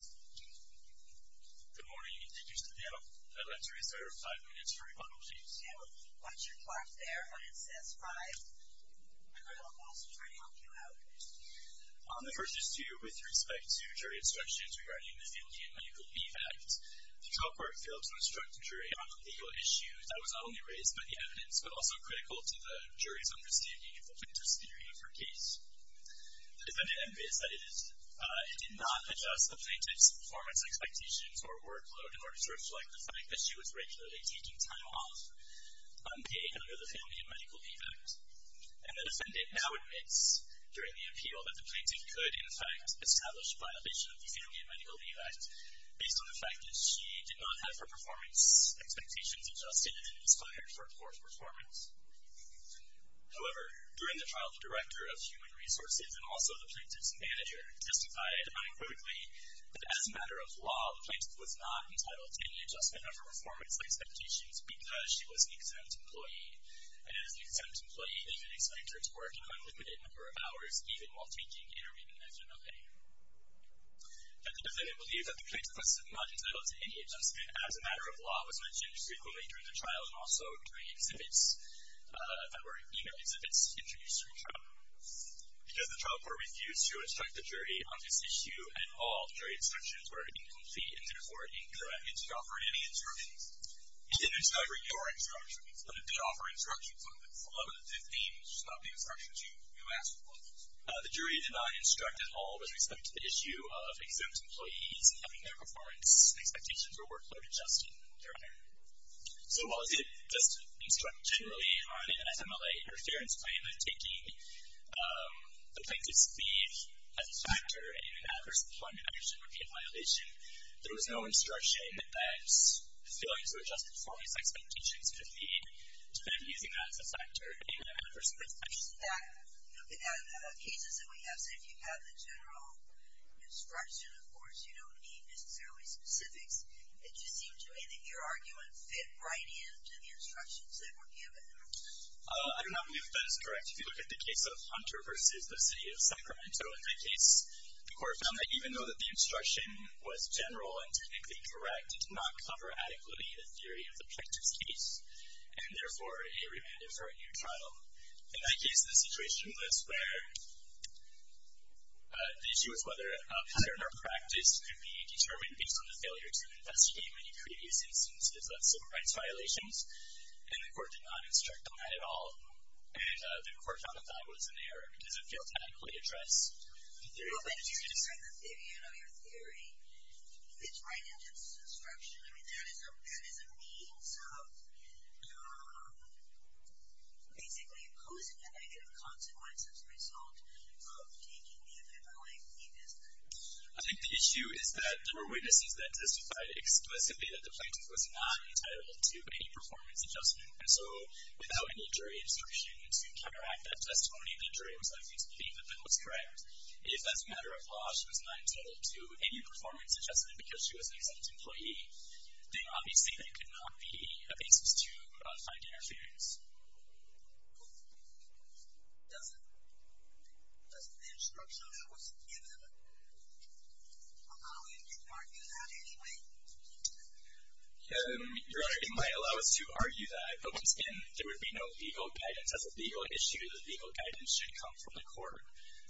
Good morning. Thank you for standing up. I'd like to restart our five minutes for rebuttal, please. Yeah, well, watch your clock there when it says five. I'm going to help also try to help you out. On the first issue, with respect to jury instructions regarding the New England Legal Leave Act, the trial court failed to instruct the jury on the legal issues. That was not only raised by the evidence, but also critical to the jury's understanding of the plaintiff's theory of her case. The defendant admits that it did not adjust the plaintiff's performance expectations or workload in order to reflect the fact that she was regularly taking time off, unpaid, under the Family and Medical Leave Act. And the defendant now admits, during the appeal, that the plaintiff could, in fact, establish a violation of the Family and Medical Leave Act based on the fact that she did not have her performance expectations adjusted and inspired for poor performance. However, during the trial, the Director of Human Resources and also the plaintiff's manager testified unequivocally that, as a matter of law, the plaintiff was not entitled to any adjustment of her performance expectations because she was an exempt employee. And as an exempt employee, they didn't expect her to work an unlimited number of hours, even while taking intermediate and external pay. And the defendant believed that the plaintiff was not entitled to any adjustment, as a matter of law, as mentioned frequently during the trial and also during exhibits that were email exhibits introduced during trial. Because the trial court refused to instruct the jury on this issue at all, the jury instructions were incomplete and therefore incorrect. It did not offer any instructions. It did not deliver your instructions, but it did offer instructions on 11 of the 15 stopping instructions you asked for. The jury did not instruct at all with respect to the issue of exempt employees having their performance and expectations or workload adjusted during it. So while it did instruct generally on an FMLA interference claim that taking the plaintiff's leave as a factor in an adverse employment action would be a violation, there was no instruction that failing to adjust the performance expectations could lead to them using that as a factor in an adverse employment action. We have cases that we have said if you have the general instruction, of course, you don't need necessarily specifics. It just seemed to me that your argument fit right in to the instructions that were given. I do not believe that is correct. If you look at the case of Hunter versus the city of Sacramento, in that case, the court found that even though the instruction was general and technically correct, it did not cover adequately the theory of the plaintiff's case, and therefore, a remanded for a new trial. In that case, the situation was where the issue was whether a failure in our practice could be determined based on the failure to investigate many previous instances of civil rights violations, and the court did not instruct on that at all, and the court found that that was an error because it failed to adequately address the theory of the plaintiff's case. Basically, who is the negative consequence as a result of taking the FMLI plea business? I think the issue is that there were witnesses that testified explicitly that the plaintiff was not entitled to any performance adjustment, and so without any jury instruction to counteract that testimony, the jury was likely to believe that that was correct. If, as a matter of law, she was not entitled to any performance adjustment because she was an exempt employee, then obviously that could not be a basis to find interference. Doesn't the instruction that was given allow you to argue that anyway? Your Honor, it might allow us to argue that, but once again, there would be no legal guidance. As a legal issue, the legal guidance should come from the court,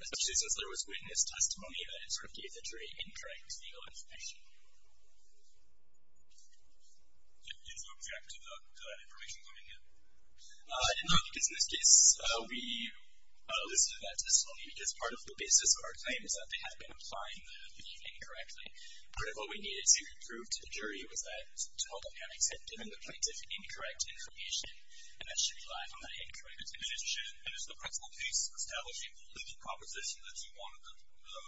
especially since there was witness testimony that it sort of gave the jury incorrect legal information. Did you object to that information coming in? I did not, because in this case, we listed that testimony because part of the basis of our claim is that they had been applying the leave incorrectly. Part of what we needed to prove to the jury was that, to all the panics had given the plaintiff incorrect information, and that she relied on that incorrect information. In addition, is the principal case establishing the legal composition that you wanted the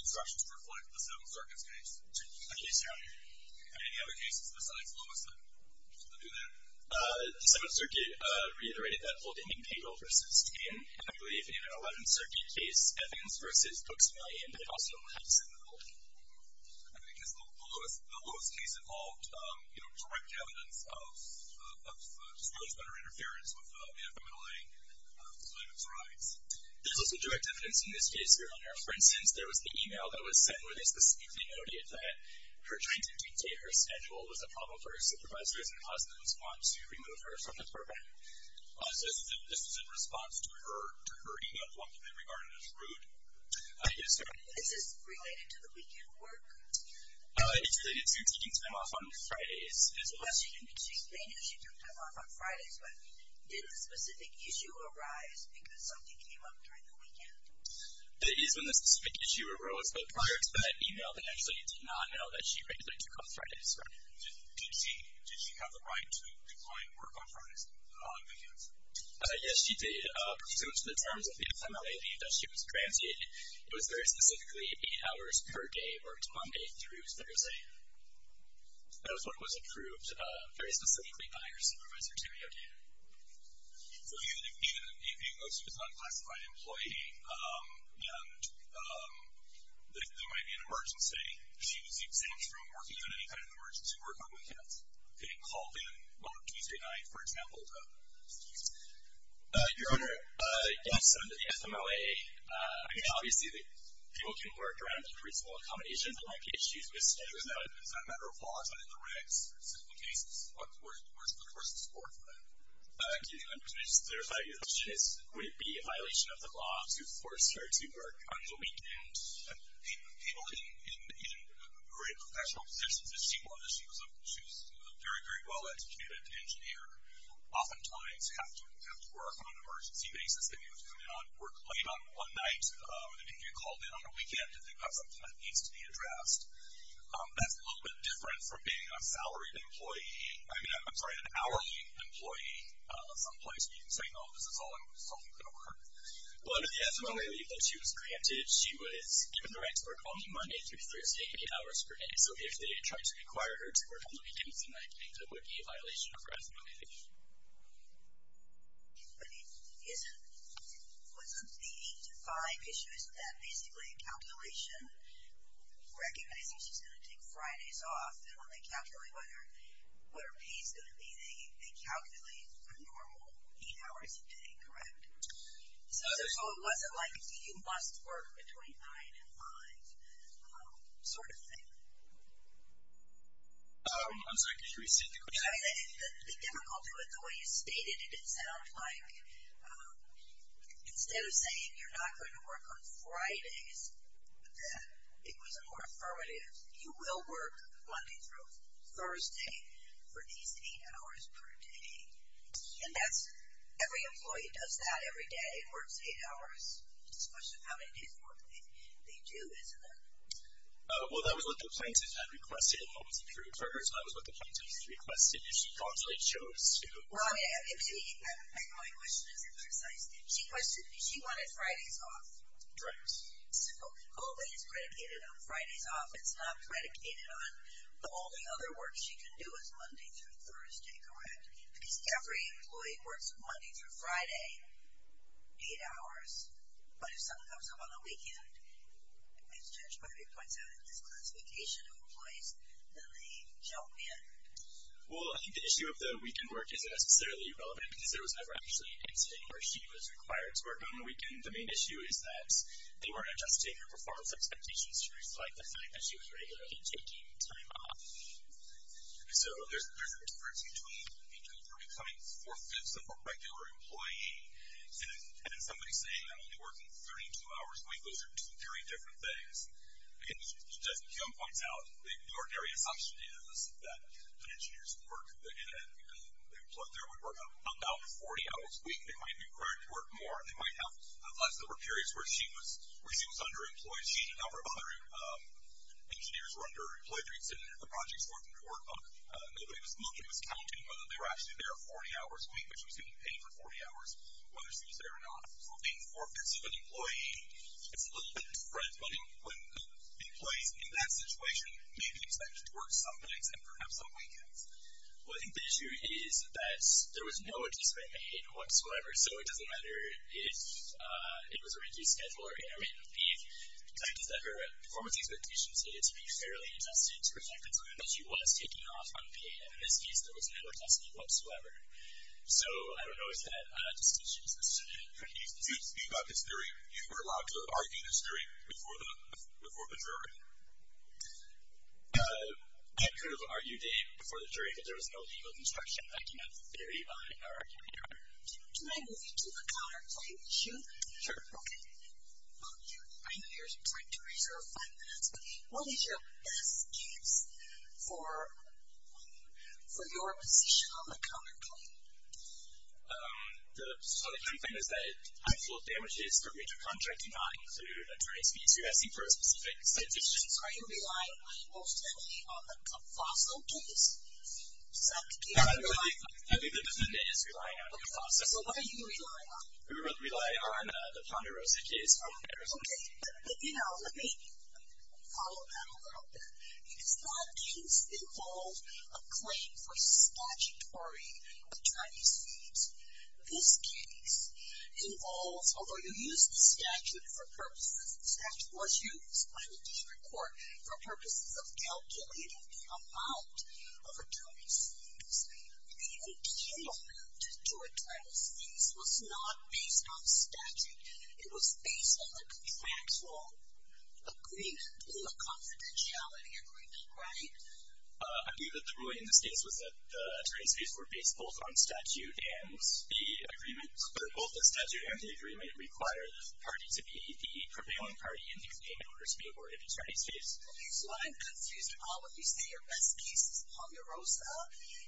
instruction to reflect, the Seventh Circuit's case? Yes, Your Honor. Are there any other cases besides Lewis that do that? The Seventh Circuit reiterated that Fulding and Payne v. Payne. I believe in an 11th Circuit case, Evans v. Hooks and Layton, they also allowed the defendant to leave. I mean, because the Lewis case involved, you know, direct evidence of disclosure under interference with the FMLA and the plaintiff's rights. There's also direct evidence in this case, Your Honor. For instance, there was an e-mail that was sent where they specifically noted that her trying to dictate her schedule was a problem for her supervisors and her husband was fond to remove her from the program. So this was in response to her e-mail, one that they regarded as rude? Yes, Your Honor. Is this related to the weekend work? It's related to taking time off on Fridays as well. Well, she did say she took time off on Fridays, but did the specific issue arise because something came up during the weekend? It is when the specific issue arose, but prior to that e-mail they actually did not know that she regularly took off Fridays, Your Honor. Did she have the right to decline work on Fridays on weekends? Yes, she did. Pursuant to the terms of the FMLA leave that she was granted, it was very specifically eight hours per day or one day through Thursday. That was what was approved very specifically by her supervisor, Terry O'Day. So even though she was an unclassified employee and there might be an emergency, she was exempt from working on any kind of emergency work on weekends? Getting called in on a Tuesday night, for example? Your Honor, yes, under the FMLA, I mean obviously people can work around the principle accommodations and IPHQs, but is that a matter of law? It's not in the regs. It's in the cases. Where's the support for that? Do you think there's a chance that it would be a violation of the law to force her to work on the weekend? People in great professional positions, if she wanted to, she was a very, very well-educated engineer. Oftentimes have to work on an emergency basis. They may have to go in and work late on one night. They may get called in on a weekend if they've got something that needs to be addressed. That's a little bit different from being a salaried employee. I mean, I'm sorry, an hourly employee someplace where you can say, oh, this is all going to work. Well, under the FMLA leave that she was granted, she was given the right to work only Monday through Thursday, eight hours per day. So if they tried to require her to work on the weekends and night, it would be a violation of her FMLA leave. But wasn't the 8-to-5 issue, isn't that basically a calculation recognizing she's going to take Fridays off? And when they calculate what her pay is going to be, they calculate her normal eight hours a day, correct? So it wasn't like a you-must-work-between-nine-and-five sort of thing? I'm sorry, could you repeat the question? I mean, the difficulty with the way you stated it, it sounds like instead of saying you're not going to work on Fridays, it was more affirmative. You will work Monday through Thursday for these eight hours per day. And every employee does that every day, works eight hours. It's a question of how many days of work they do, isn't it? Well, that was what the plaintiff had requested and what was approved for her. So that was what the plaintiff requested, and she thoughtfully chose to. Well, my question isn't precise. She wanted Fridays off. Right. So all that is predicated on Fridays off. It's not predicated on the only other work she can do is Monday through Thursday, correct? Because every employee works Monday through Friday, eight hours. But if something comes up on the weekend, as Judge Barbee points out, in this classification of employees, then they jump in. Well, I think the issue of the weekend work isn't necessarily relevant because there was never actually an incident where she was required to work on the weekend. The main issue is that they weren't adjusting her performance expectations to reflect the fact that she was regularly taking time off. So there's a difference between becoming four-fifths of a regular employee and somebody saying I'm only working 32 hours a week. Those are two very different things. Again, as Judge McKeown points out, the ordinary assumption is that an engineer's work weekend, the employee there would work about 40 hours a week. They might be required to work more. They might have less than four periods where she was underemployed. She had a number of other engineers who were underemployed during the extended project's four-week workbook. Nobody was looking, was counting whether they were actually there 40 hours a week, but she was getting paid for 40 hours whether she was there or not. So being four-fifths of an employee is a little bit different, but employees in that situation may be expected to work some nights and perhaps some weekends. Well, I think the issue is that there was no adjustment made whatsoever. So it doesn't matter if it was a regular schedule or intermittent leave. The fact is that her performance expectations needed to be fairly adjusted to reflect the time that she was taking off unpaid. In this case, there was no adjustment whatsoever. So, I don't know, is that a distinction? You've got this jury. You were allowed to argue this jury before the jury. I could have argued it before the jury because there was no legal construction. I cannot very highly argue here. Can I move you to a counterpoint issue? Okay. I know you're trying to reserve five minutes, but what is your best case for your position on the counterpoint? So the counterpoint is that I'm full of damages for breach of contract, do not include attorney's fees. You're asking for a specific set of decisions. Are you relying most heavily on the FASO case? Is that the case you're relying on? I think the defendant is relying on the FASO case. So what are you relying on? We rely on the Ponderosa case from Arizona. Okay. But, you know, let me follow that a little bit. It's not a case that involves a claim for statutory attorney's fees. This case involves, although you use the statute for purposes, the statute was used by the Denver court for purposes of calculating the amount of attorney's fees. The appeal to attorney's fees was not based on statute. It was based on the contractual agreement, the confidentiality agreement, right? I believe that the ruling in this case was that the attorney's fees were based both on statute and the agreement. Both the statute and the agreement require the party to be the prevailing party in the claim in order to be awarded attorney's fees. Okay. So I'm confused. All of you say your best case is Ponderosa. Ponderosa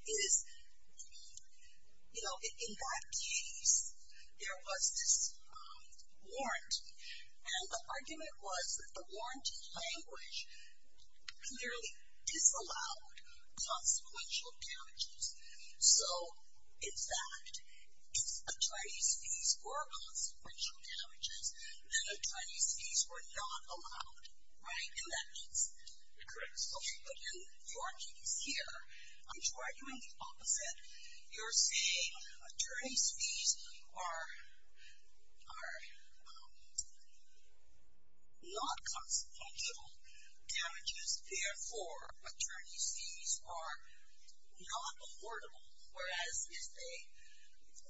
is, you know, in that case there was this warranty. And the argument was that the warranty language clearly disallowed consequential damages. So, in fact, attorney's fees were consequential damages, and attorney's fees were not allowed, right? And that means? Correct. But in your case here, I'm arguing the opposite. You're saying attorney's fees are not consequential damages, therefore attorney's fees are not affordable, whereas if they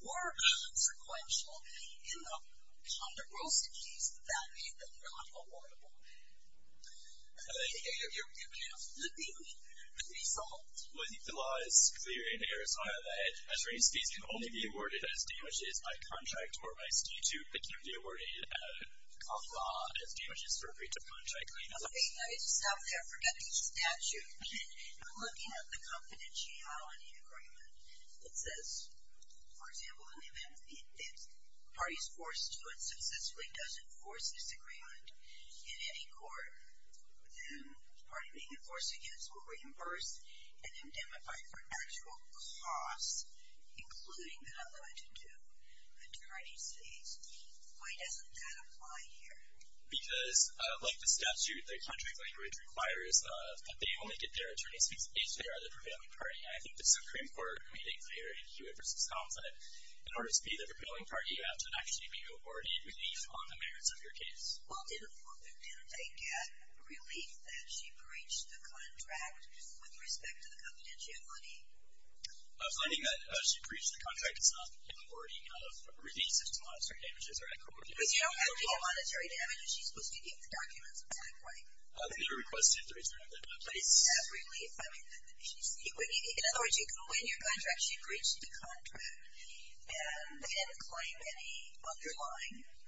were consequential in the Ponderosa case, that made them not affordable. I think the law is clear in Arizona that attorney's fees can only be awarded as damages by contract or by statute. It can't be awarded as damages for a breach of contract. Okay. I just stopped there. Forget the statute. I'm looking at the confidentiality agreement. It says, for example, if the party is forced to and successfully does enforce this agreement, in any court, the party being enforced against will reimburse and indemnify for actual costs, including the not limited to attorney's fees. Why doesn't that apply here? Because, like the statute, the contract language requires that they only get their attorney's fees if they are the prevailing party. And I think the Supreme Court made it clear in Hewitt v. Conflict, in order to be the prevailing party, you have to actually be awarded relief on the merits of your case. Well, didn't they get relief that she breached the contract with respect to the confidentiality? Finding that she breached the contract, it's not in the wording of revisions to monetary damages or actual damages. But you don't have to get monetary damages. She's supposed to get the documents at that point. They were requested to return them. But it's not relief. In other words, you can win your contract, she breached the contract, and they didn't claim any underlying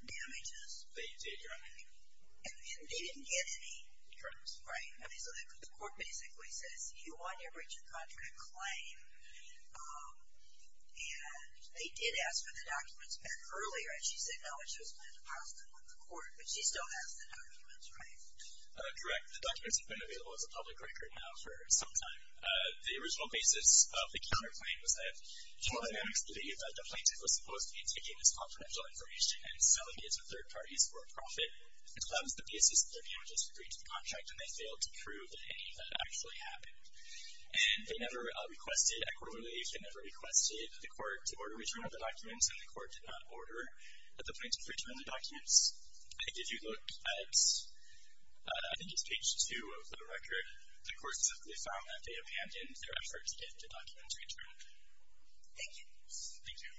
damages. They did, your honor. And they didn't get any? Correct. Right. I mean, so the court basically says, you want to breach a contract claim, and they did ask for the documents back earlier, and she said no, and she was put in a positive with the court. But she still has the documents, right? Correct. The documents have been available as a public record now for some time. The original basis of the counterclaim was that, for the next leave, the plaintiff was supposed to be taking this confidential information and giving it to the police for a profit. So that was the basis that their damages were breached in the contract, and they failed to prove that any of that actually happened. And they never requested equitable relief. They never requested the court to order return of the documents, and the court did not order that the plaintiff return the documents. If you look at, I think it's page two of the record, the court specifically found that they abandoned their efforts to get the documents returned. Thank you. Thank you. Thank you. Thank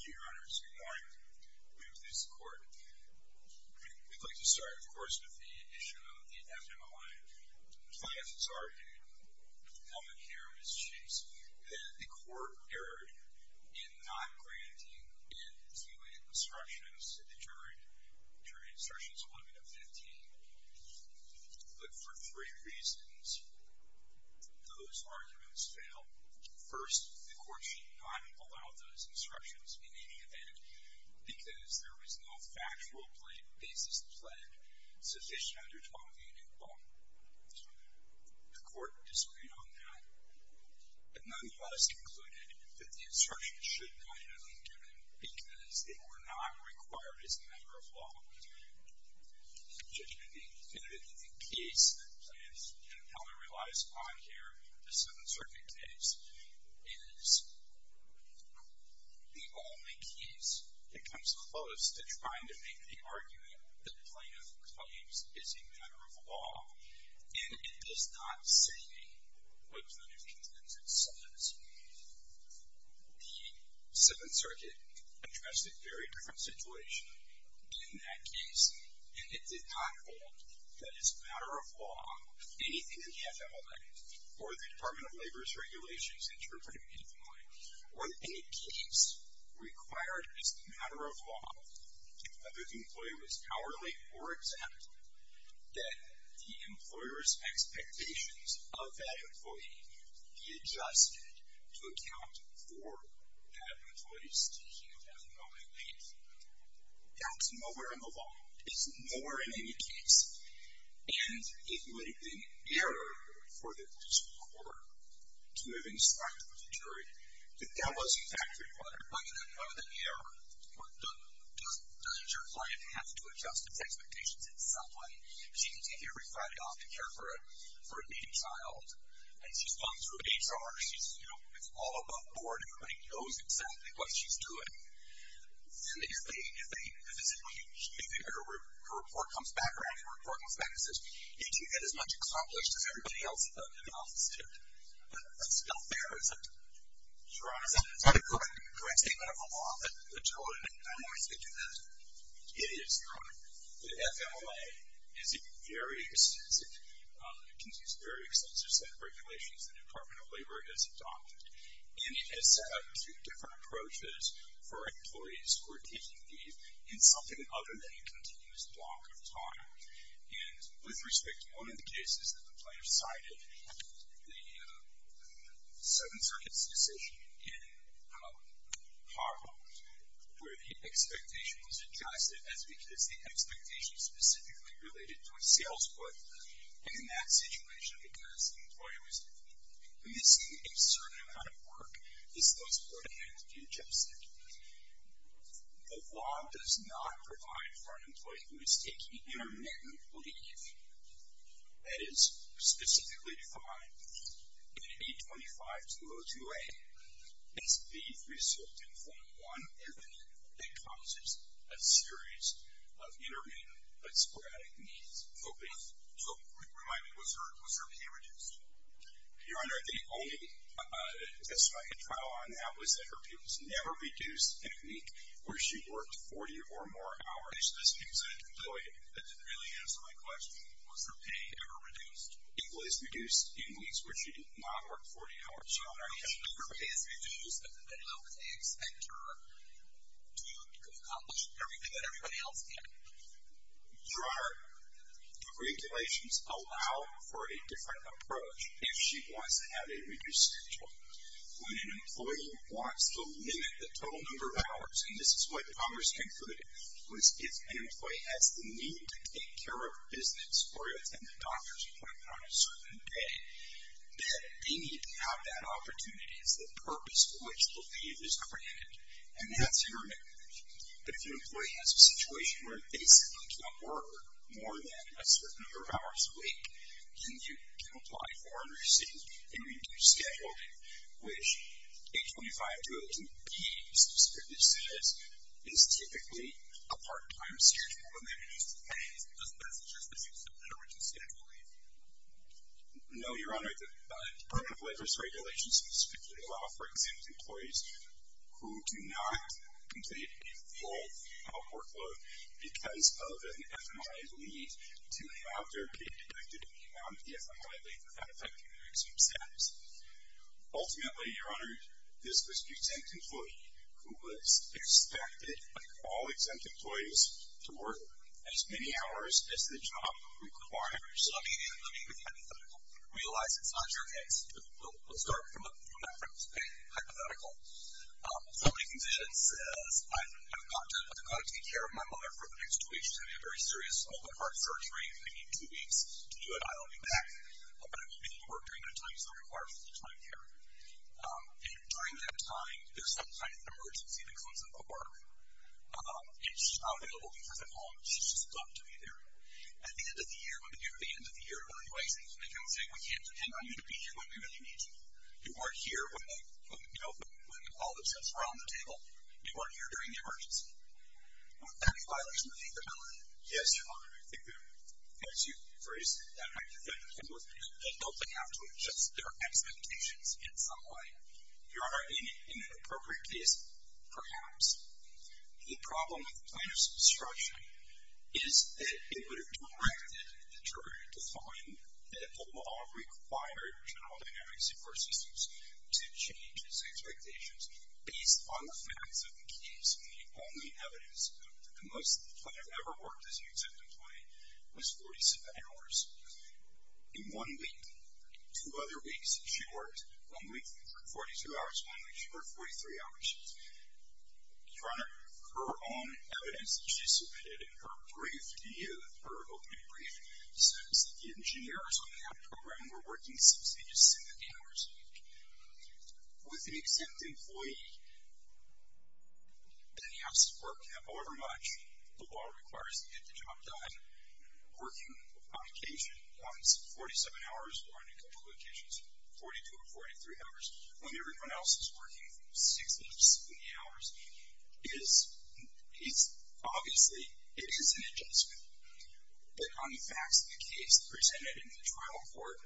you, Your Honor. It's good morning. I'm here with the Judge of the Court. We'd like to start, of course, with the issue of the FMOI. The client has argued, the moment here, Ms. Chase, that the Court erred in not granting end-to-end instructions in the jury, jury instructions 11 to 15. But for three reasons, those arguments fail. First, the Court should not allow those instructions in any event because there was no factual basis pledged sufficient under 1280. The Court disagreed on that. But nonetheless concluded that the instructions should not have been given because they were not required as a matter of law. The judgment being definitively the case that the client has compellingly relies upon here, this is an uncertain case, is the only case that comes close to trying to make the argument that the plaintiff claims is a matter of law. And it does not say what kind of evidence it says. The Seventh Circuit addressed a very different situation in that case. And it did not hold that as a matter of law, anything in the FMLA or the Department of Labor's regulations interpreting the employee, or any case required as a matter of law, whether the employee was powerly or exempt, that the employer's expectations of that employee be adjusted to account for that employee's seeking of that employee. That's nowhere in the law. It's nowhere in any case. And it would be an error for the court to have instructed the jury that that was in fact required. But other than the error, doesn't your client have to adjust its expectations in some way? She can take every Friday off to care for a needy child. And she's gone through HR. It's all above board. Everybody knows exactly what she's doing. And if her report comes back, her annual report comes back and says, did you get as much accomplished as everybody else in the office did? That's not fair, is it? Your Honor, is that a correct statement of the law, that the children in nine months could do that? It is, Your Honor. The FMLA is a very extensive, it contains very extensive set of regulations that the Department of Labor has adopted. And it has set up two different approaches for employees who are taking leave in something other than a continuous block of time. And with respect to one of the cases that the plaintiff cited, the Seventh Circuit's decision in Harvard, where the expectation was adjusted as because the expectation specifically related to a sales point. And in that situation, because the employee was missing a certain amount of work, this was put ahead and adjusted. The law does not provide for an employee who is taking intermittent leave. That is specifically defined in AB 25-202A as being resulting from one event that causes a series of intermittent but sporadic leave. So, remind me, was her pay reduced? Your Honor, the only testimony in trial on that was that her pay was never reduced in a week where she worked 40 or more hours. This gives an employee that didn't really answer my question, was her pay ever reduced? It was reduced in weeks where she did not work 40 hours. Your Honor, if her pay is reduced, then how can they expect her to accomplish everything that everybody else can? Your Honor, the regulations allow for a different approach if she wants to have a reduced schedule. When an employee wants to limit the total number of hours, and this is what Congress concluded, was if an employee has the need to take care of business or attend the doctor's appointment on a certain day, that they need to have that opportunity. It's the purpose for which the leave is granted. And that's intermittent. If an employee has a situation where they simply can't work more than a certain number of hours a week, then you can apply for and receive a reduced schedule leave, which 825-202-B specifically says is typically a part-time schedule, and that reduces the pay. Doesn't that suggest that you still have a reduced schedule leave? No, Your Honor, the Department of Labor's regulations specifically allow, for example, exempt employees who do not complete a full work load because of an FMI leave to have their pay deducted in the amount of the FMI leave without affecting their exempt status. Ultimately, Your Honor, this was the exempt employee who was expected, like all exempt employees, to work as many hours as the job requires. Let me realize it's not your case. We'll start from that premise. Okay? Hypothetical. Somebody comes in and says, I've got to take care of my mother for the next two weeks. She's having a very serious open-heart surgery. I need two weeks to do it. I'll be back. But I won't be able to work during that time because I'm required full-time care. And during that time, there's some kind of emergency that comes up at work. And she's not available because at home. She's just stuck to be there. At the end of the year, when we get to the end of the year, we're going to be wasting time. We can't depend on you to be here when we really need you. You aren't here when all the chips are on the table. You aren't here during the emergency. Would that be a violation of the FMI law? Yes, Your Honor. I think it would. Thank you for raising that point. And don't they have to adjust their expectations in some way? Your Honor, in an appropriate case, perhaps. The problem with the plaintiff's obstruction is that it would have directed the juror to find that the law required general dynamics of court systems to change his expectations based on the facts of the case. And the only evidence that the plaintiff ever worked as an exempt employee was 47 hours. In one week, two other weeks that she worked, one week she worked 42 hours, one week she worked 43 hours. Your Honor, her own evidence that she submitted in her brief, in her opening brief, says that the engineers on that program were working 16 to 17 hours a week. With an exempt employee, then he has to work however much the law requires to get the job done. Working on occasion, once 47 hours, or in a couple of occasions, 42 or 43 hours. When everyone else is working 60 to 70 hours, it is, obviously, it is an adjustment. But on the facts of the case presented in the trial court,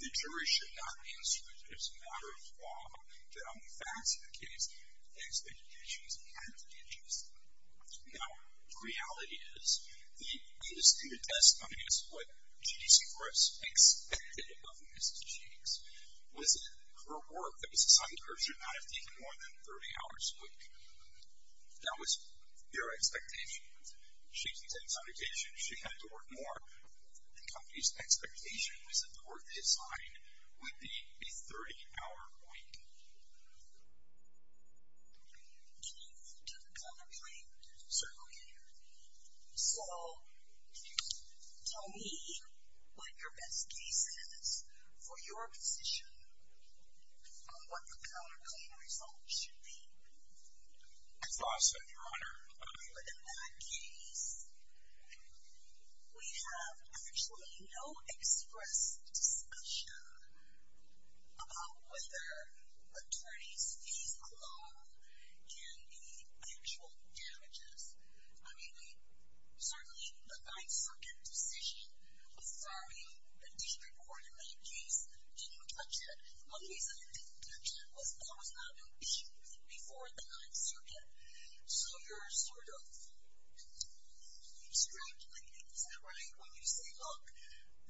the jury should not be instructed as a matter of law that on the facts of the case, the expectations have to be adjusted. Now, the reality is, the biggest thing that does come against what G.D.C. Forrest expected of Mrs. Jenkins was that her work, that was assigned to her, should not have taken more than 30 hours a week. That was their expectation. She didn't take this on occasion. She had to work more. The company's expectation was that the work they assigned would be a 30-hour point. Can I move to the color plate? Certainly. So, can you tell me what your best case is for your position on what the color plate result should be? It's awesome, Your Honor. But in that case, we have actually no express discussion about whether attorney's fees clause can be actual damages. I mean, we certainly, the 9th Circuit decision, with Fario, the district court in that case, didn't touch it. One reason it didn't touch it was that was not an issue before the 9th Circuit. So you're sort of extrapolating. Is that right? When you say, look,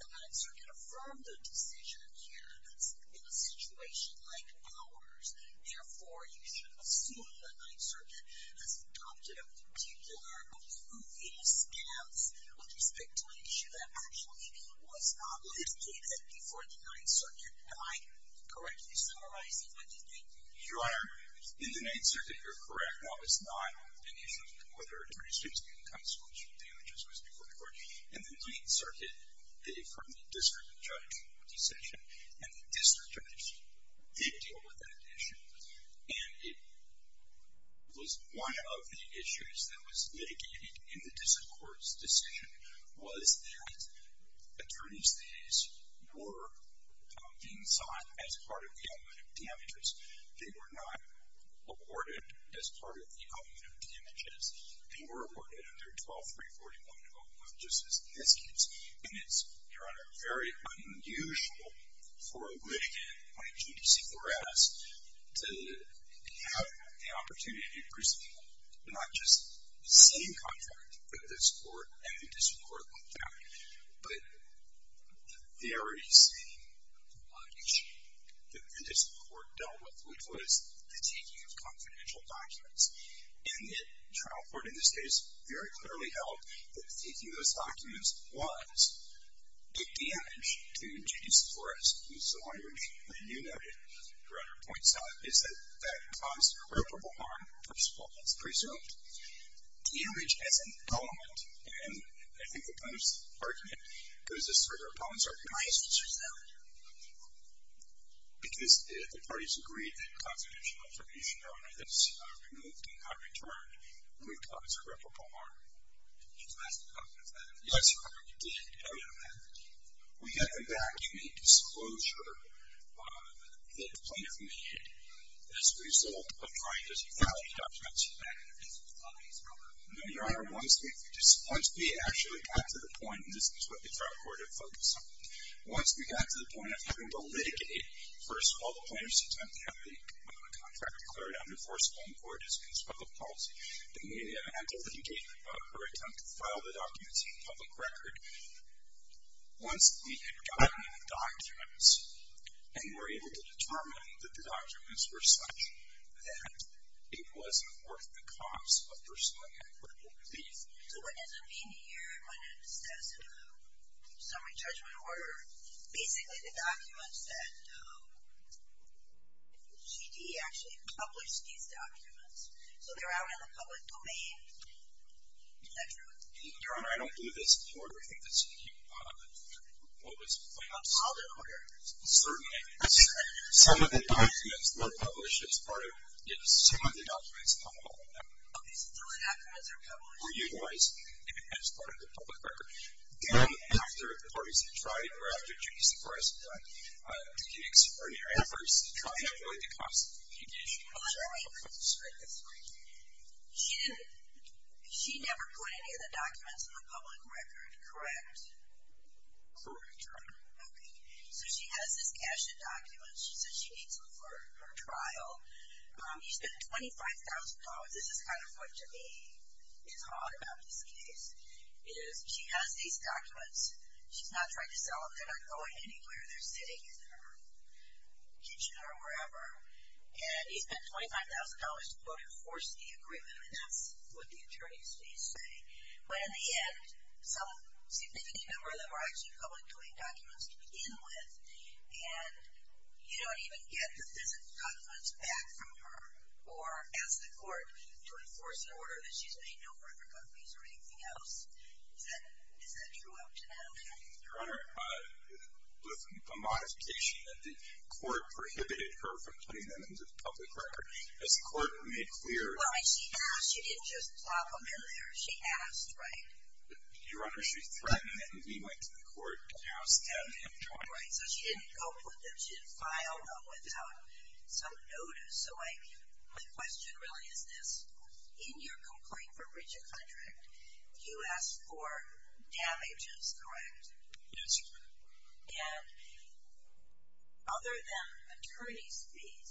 the 9th Circuit affirmed the decision here that's in a situation like ours. Therefore, you should assume the 9th Circuit has adopted a particular approving stance with respect to an issue that actually was not litigated before the 9th Circuit. Am I correctly summarizing what you're thinking? Your Honor, in the 9th Circuit, you're correct. That was not an issue whether attorney's fees can be a consequence of damages was before the court. In the 9th Circuit, they affirmed the district judge's decision, and the district judge did deal with that issue. And it was one of the issues that was litigated in the district court's decision was that attorney's fees were being sought as part of the amount of damages. They were not awarded as part of the amount of damages. They were awarded under 12341, just as an excuse. And it's, Your Honor, very unusual for a litigant in 22 D.C. for us to have the opportunity to present not just the same contract that this court and the district court looked at, but the very same issue that the district court dealt with, which was the taking of confidential documents. And the trial court in this case very clearly held that taking those documents was a damage to 22 D.C. for us. And so what you noted, Your Honor, points out, is that that caused irreparable harm, first of all, it's presumed. Damage as an element, and I think the plaintiff's argument goes as far as their opponents are connized, which is valid, because the parties agreed that confidential information, Your Honor, is removed and not returned, and we've caused irreparable harm. She's asked the plaintiff that. Yes, Your Honor, you did. We had a vacuuming disclosure that the plaintiff made as a result of trying to validate documents. No, Your Honor, once we actually got to the point, and this is what the trial court had focused on, once we got to the point of having to litigate, first of all, the plaintiff's attempt to have the contract declared unenforceable in court as a conspiracy policy, they may have had to litigate her attempt to file the documents in public record. Once we had documented the documents and were able to determine that the documents were such that it wasn't worth the cost of personally equitable relief... So what does it mean here when it says summary judgment order? Basically, the documents that... GD actually published these documents, so they're out in the public domain. Is that true? Your Honor, I don't believe that's true. I think that's what was put on the summary record. Certainly. Some of the documents were published as part of... Some of the documents were utilized as part of the public record. Then, after the parties had tried, or after Judy Seporez had tried, to get extraordinary efforts to try to avoid the cost of litigation... Well, let me... She never put any of the documents in the public record, correct? Correct, Your Honor. Okay. So she has this cache of documents. She says she needs them for her trial. He spent $25,000. This is kind of what, to me, is odd about this case. She has these documents. She's not trying to sell them. They're not going anywhere. They're sitting in her kitchen or wherever. And he spent $25,000 to, quote, enforce the agreement. And that's what the attorney's fees say. But in the end, some significant number of them are actually public-doing documents to begin with. And you don't even get the physical documents back from her or ask the court to enforce an order that she's made no further copies or anything else. Is that true up to now? Your Honor, with the modification that the court prohibited her from putting them into the public record, as the court made clear... Well, she asked. She didn't just plop them in there. She asked, right? Your Honor, she threatened them. We went to the court and asked them and tried. Right, so she didn't go put them. She didn't file them without some notice. So my question really is this. you asked for damages, correct? Yes, Your Honor. And other than attorney's fees,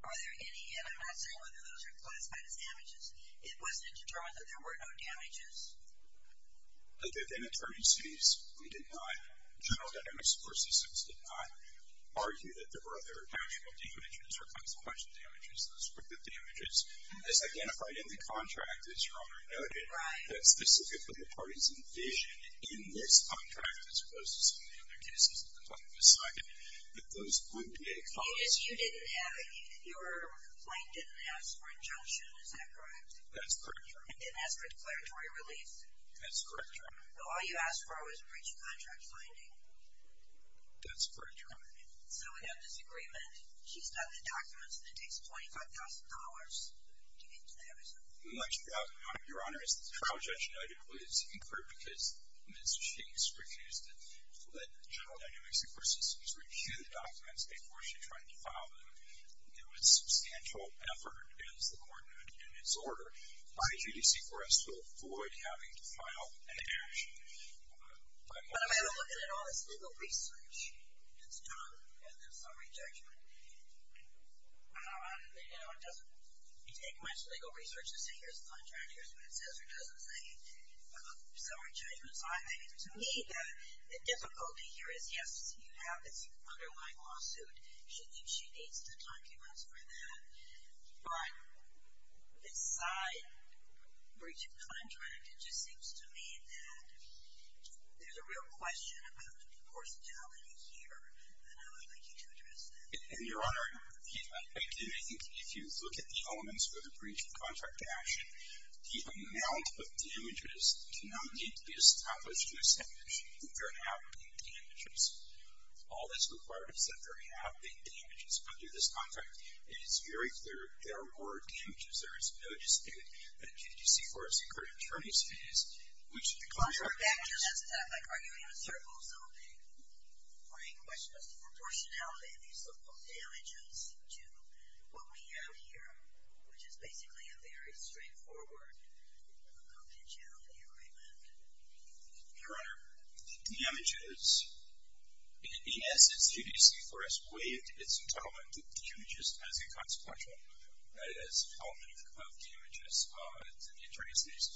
are there any, and I'm not saying whether those are classified as damages, it wasn't determined that there were no damages? Other than attorney's fees, we did not. General Dynamics Court Systems did not argue that there were other actual damages or consequential damages, those prohibited damages. As identified in the contract, as Your Honor noted, that's specific to the parties envisioned in this contract, as opposed to some of the other cases that the public has cited, that those would be a cause... You didn't have, your complaint didn't ask for injunction, is that correct? That's correct, Your Honor. It didn't ask for declaratory relief? That's correct, Your Honor. So all you asked for was breach of contract finding? That's correct, Your Honor. So we have this agreement. She's got the documents and it takes $25,000 to get to that result? Much doubt, Your Honor. As the trial judge noted, it was incurred because Ms. Chase refused to let General Dynamics Court Systems review the documents before she tried to file them. It was substantial effort, as the court noted in its order, by GDC for us to avoid having to file an action. But I've had a look at all this legal research that's done, and there's some rejection. You know, it doesn't take much legal research to say, here's the contract. Here's what it says or doesn't say. So our judgment's on it. To me, the difficulty here is, yes, you have this underlying lawsuit. She thinks she needs the documents for that. But this side, breach of contract, it just seems to me that there's a real question about the proportionality here. And I would like you to address that. And Your Honor, I think if you look at the elements for the breach of contract action, the amount of damages can only be established to establish that there have been damages. All that's required is that there have been damages under this contract. And it's very clear there were damages. There is no dispute that GDC for us incurred attorney's fees, which the contract does. Contract damages, that's not like arguing in a circle or something. My question is the proportionality of these so-called damages to what we have here, which is basically a very straightforward confidentiality agreement. Your Honor, the damages, in essence, GDC for us waived its entitlement to damages as a consequential, that is, element of damages to the attorney's fees.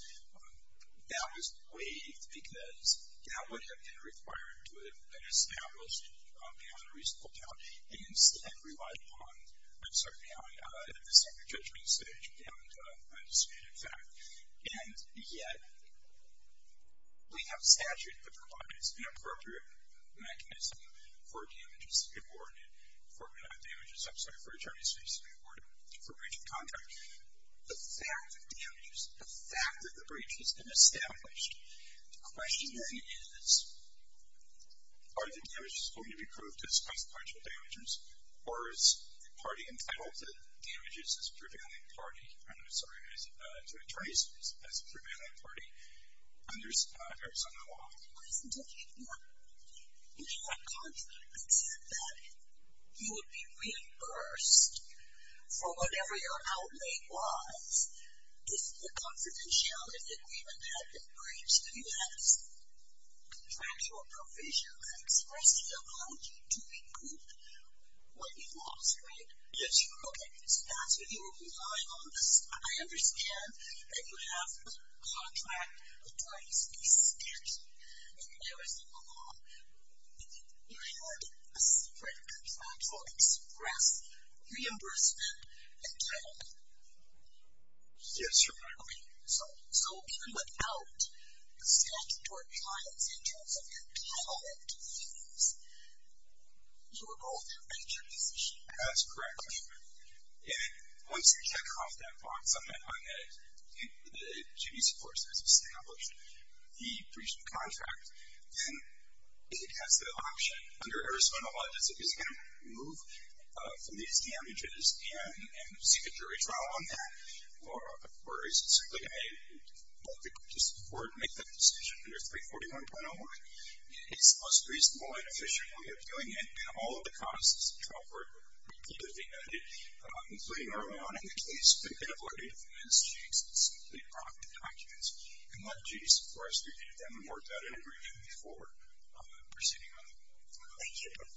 That was waived because that would have been required to have been established beyond a reasonable doubt. And instead, relied upon, I'm sorry, beyond the subject judgment stage beyond a disputed fact. And yet, we have statute that provides an appropriate mechanism for damages to be awarded, for damages, I'm sorry, for attorney's fees to be awarded for breach of contract. The fact of damages, the fact that the breach has been established, the question then is, are the damages going to be proved as consequential damages, or is the party entitled to damages as a prevailing party, I'm sorry, to attorney's fees as a prevailing party under Arizona law? My question to you, Your Honor, if you had contracts that you would be reimbursed for whatever your outlay was, if the confidentiality agreement had been breached, if you had a contractual provision that expressed the apology to be proved when you lost, right? Yes, Your Honor. Okay, so that's what you were relying on. I understand that you have a contract with the attorney's fees statute, and Arizona law, you had a separate contractual express reimbursement, and yet, yes, Your Honor. Okay, so even without the statute or compliance in terms of your title and fees, you were both in a breach of position. That's correct, Your Honor. And once you check off that box on that, on that the GBC forces established the breach of contract, then it has the option under Arizona law, does it, is it going to remove from these damages and seek a jury trial on that, or is it simply going to make the decision under 341.01? It's the most reasonable and efficient way of doing it, and all of the causes of trial for it would need to be noted, including early on in the case, the inability to finance checks, and simply prompt a conscience, and let a jury support us review them and work out an agreement before proceeding on the case. Thank you. Thank you.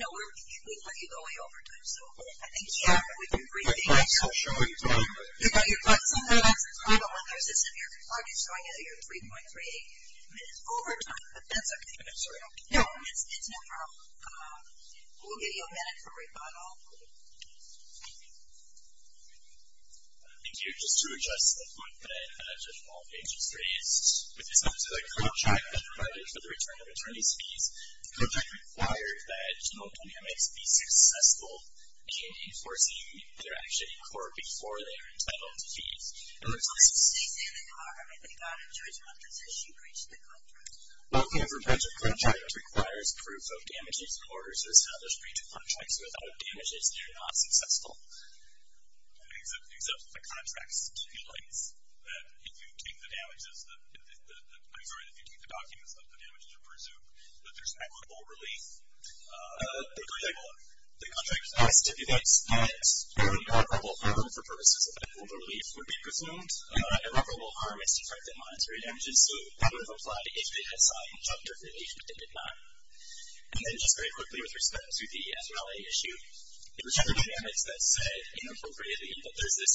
No, we thought you'd go away over time, so. I think, yeah, but we've been briefing you. I'm not so sure what you're talking about. You've got your clients on the line, so we don't want their system here. I'm just trying to get your 3.38 minutes over time, but that's okay. I'm sorry. No, it's no problem. We'll give you a minute for rebuttal. Thank you. Just to adjust to the point that I had, which is up to the contract that's provided for the return of attorney's fees, the contract requires that no damage be successful in enforcing their action in court before they are entitled to fees. Well, if your provincial contract requires proof of damages in order to establish breach of contracts without damages, you're not successful. Except that the contract stipulates that if you take the damages, I'm sorry, if you take the documents that the damages are presumed, that there's equitable relief. The contract stipulates that irreparable harm for purposes of equitable relief would be presumed. Irreparable harm is to prevent monetary damages, so that would apply if they had signed a chapter of the relief, but they did not. And then, just very quickly, with respect to the FRA issue, it was General Dynamics that said, inappropriately, that there's this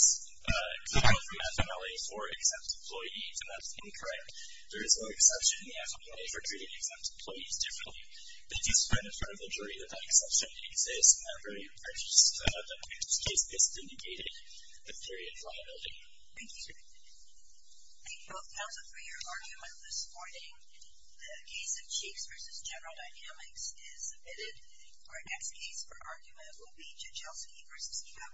clear and free affidavit for exempt employees, and that's incorrect. There is no exception in the affidavit for treating exempt employees differently. They do spread in front of the jury that that exception exists, however, in that particular case, this indicated a period of liability. Thank you, sir. Thank you both, counsel, for your argument this morning. The case of Chiefs v. General Dynamics is submitted. Our next case for argument will be Jachelski v. Egon.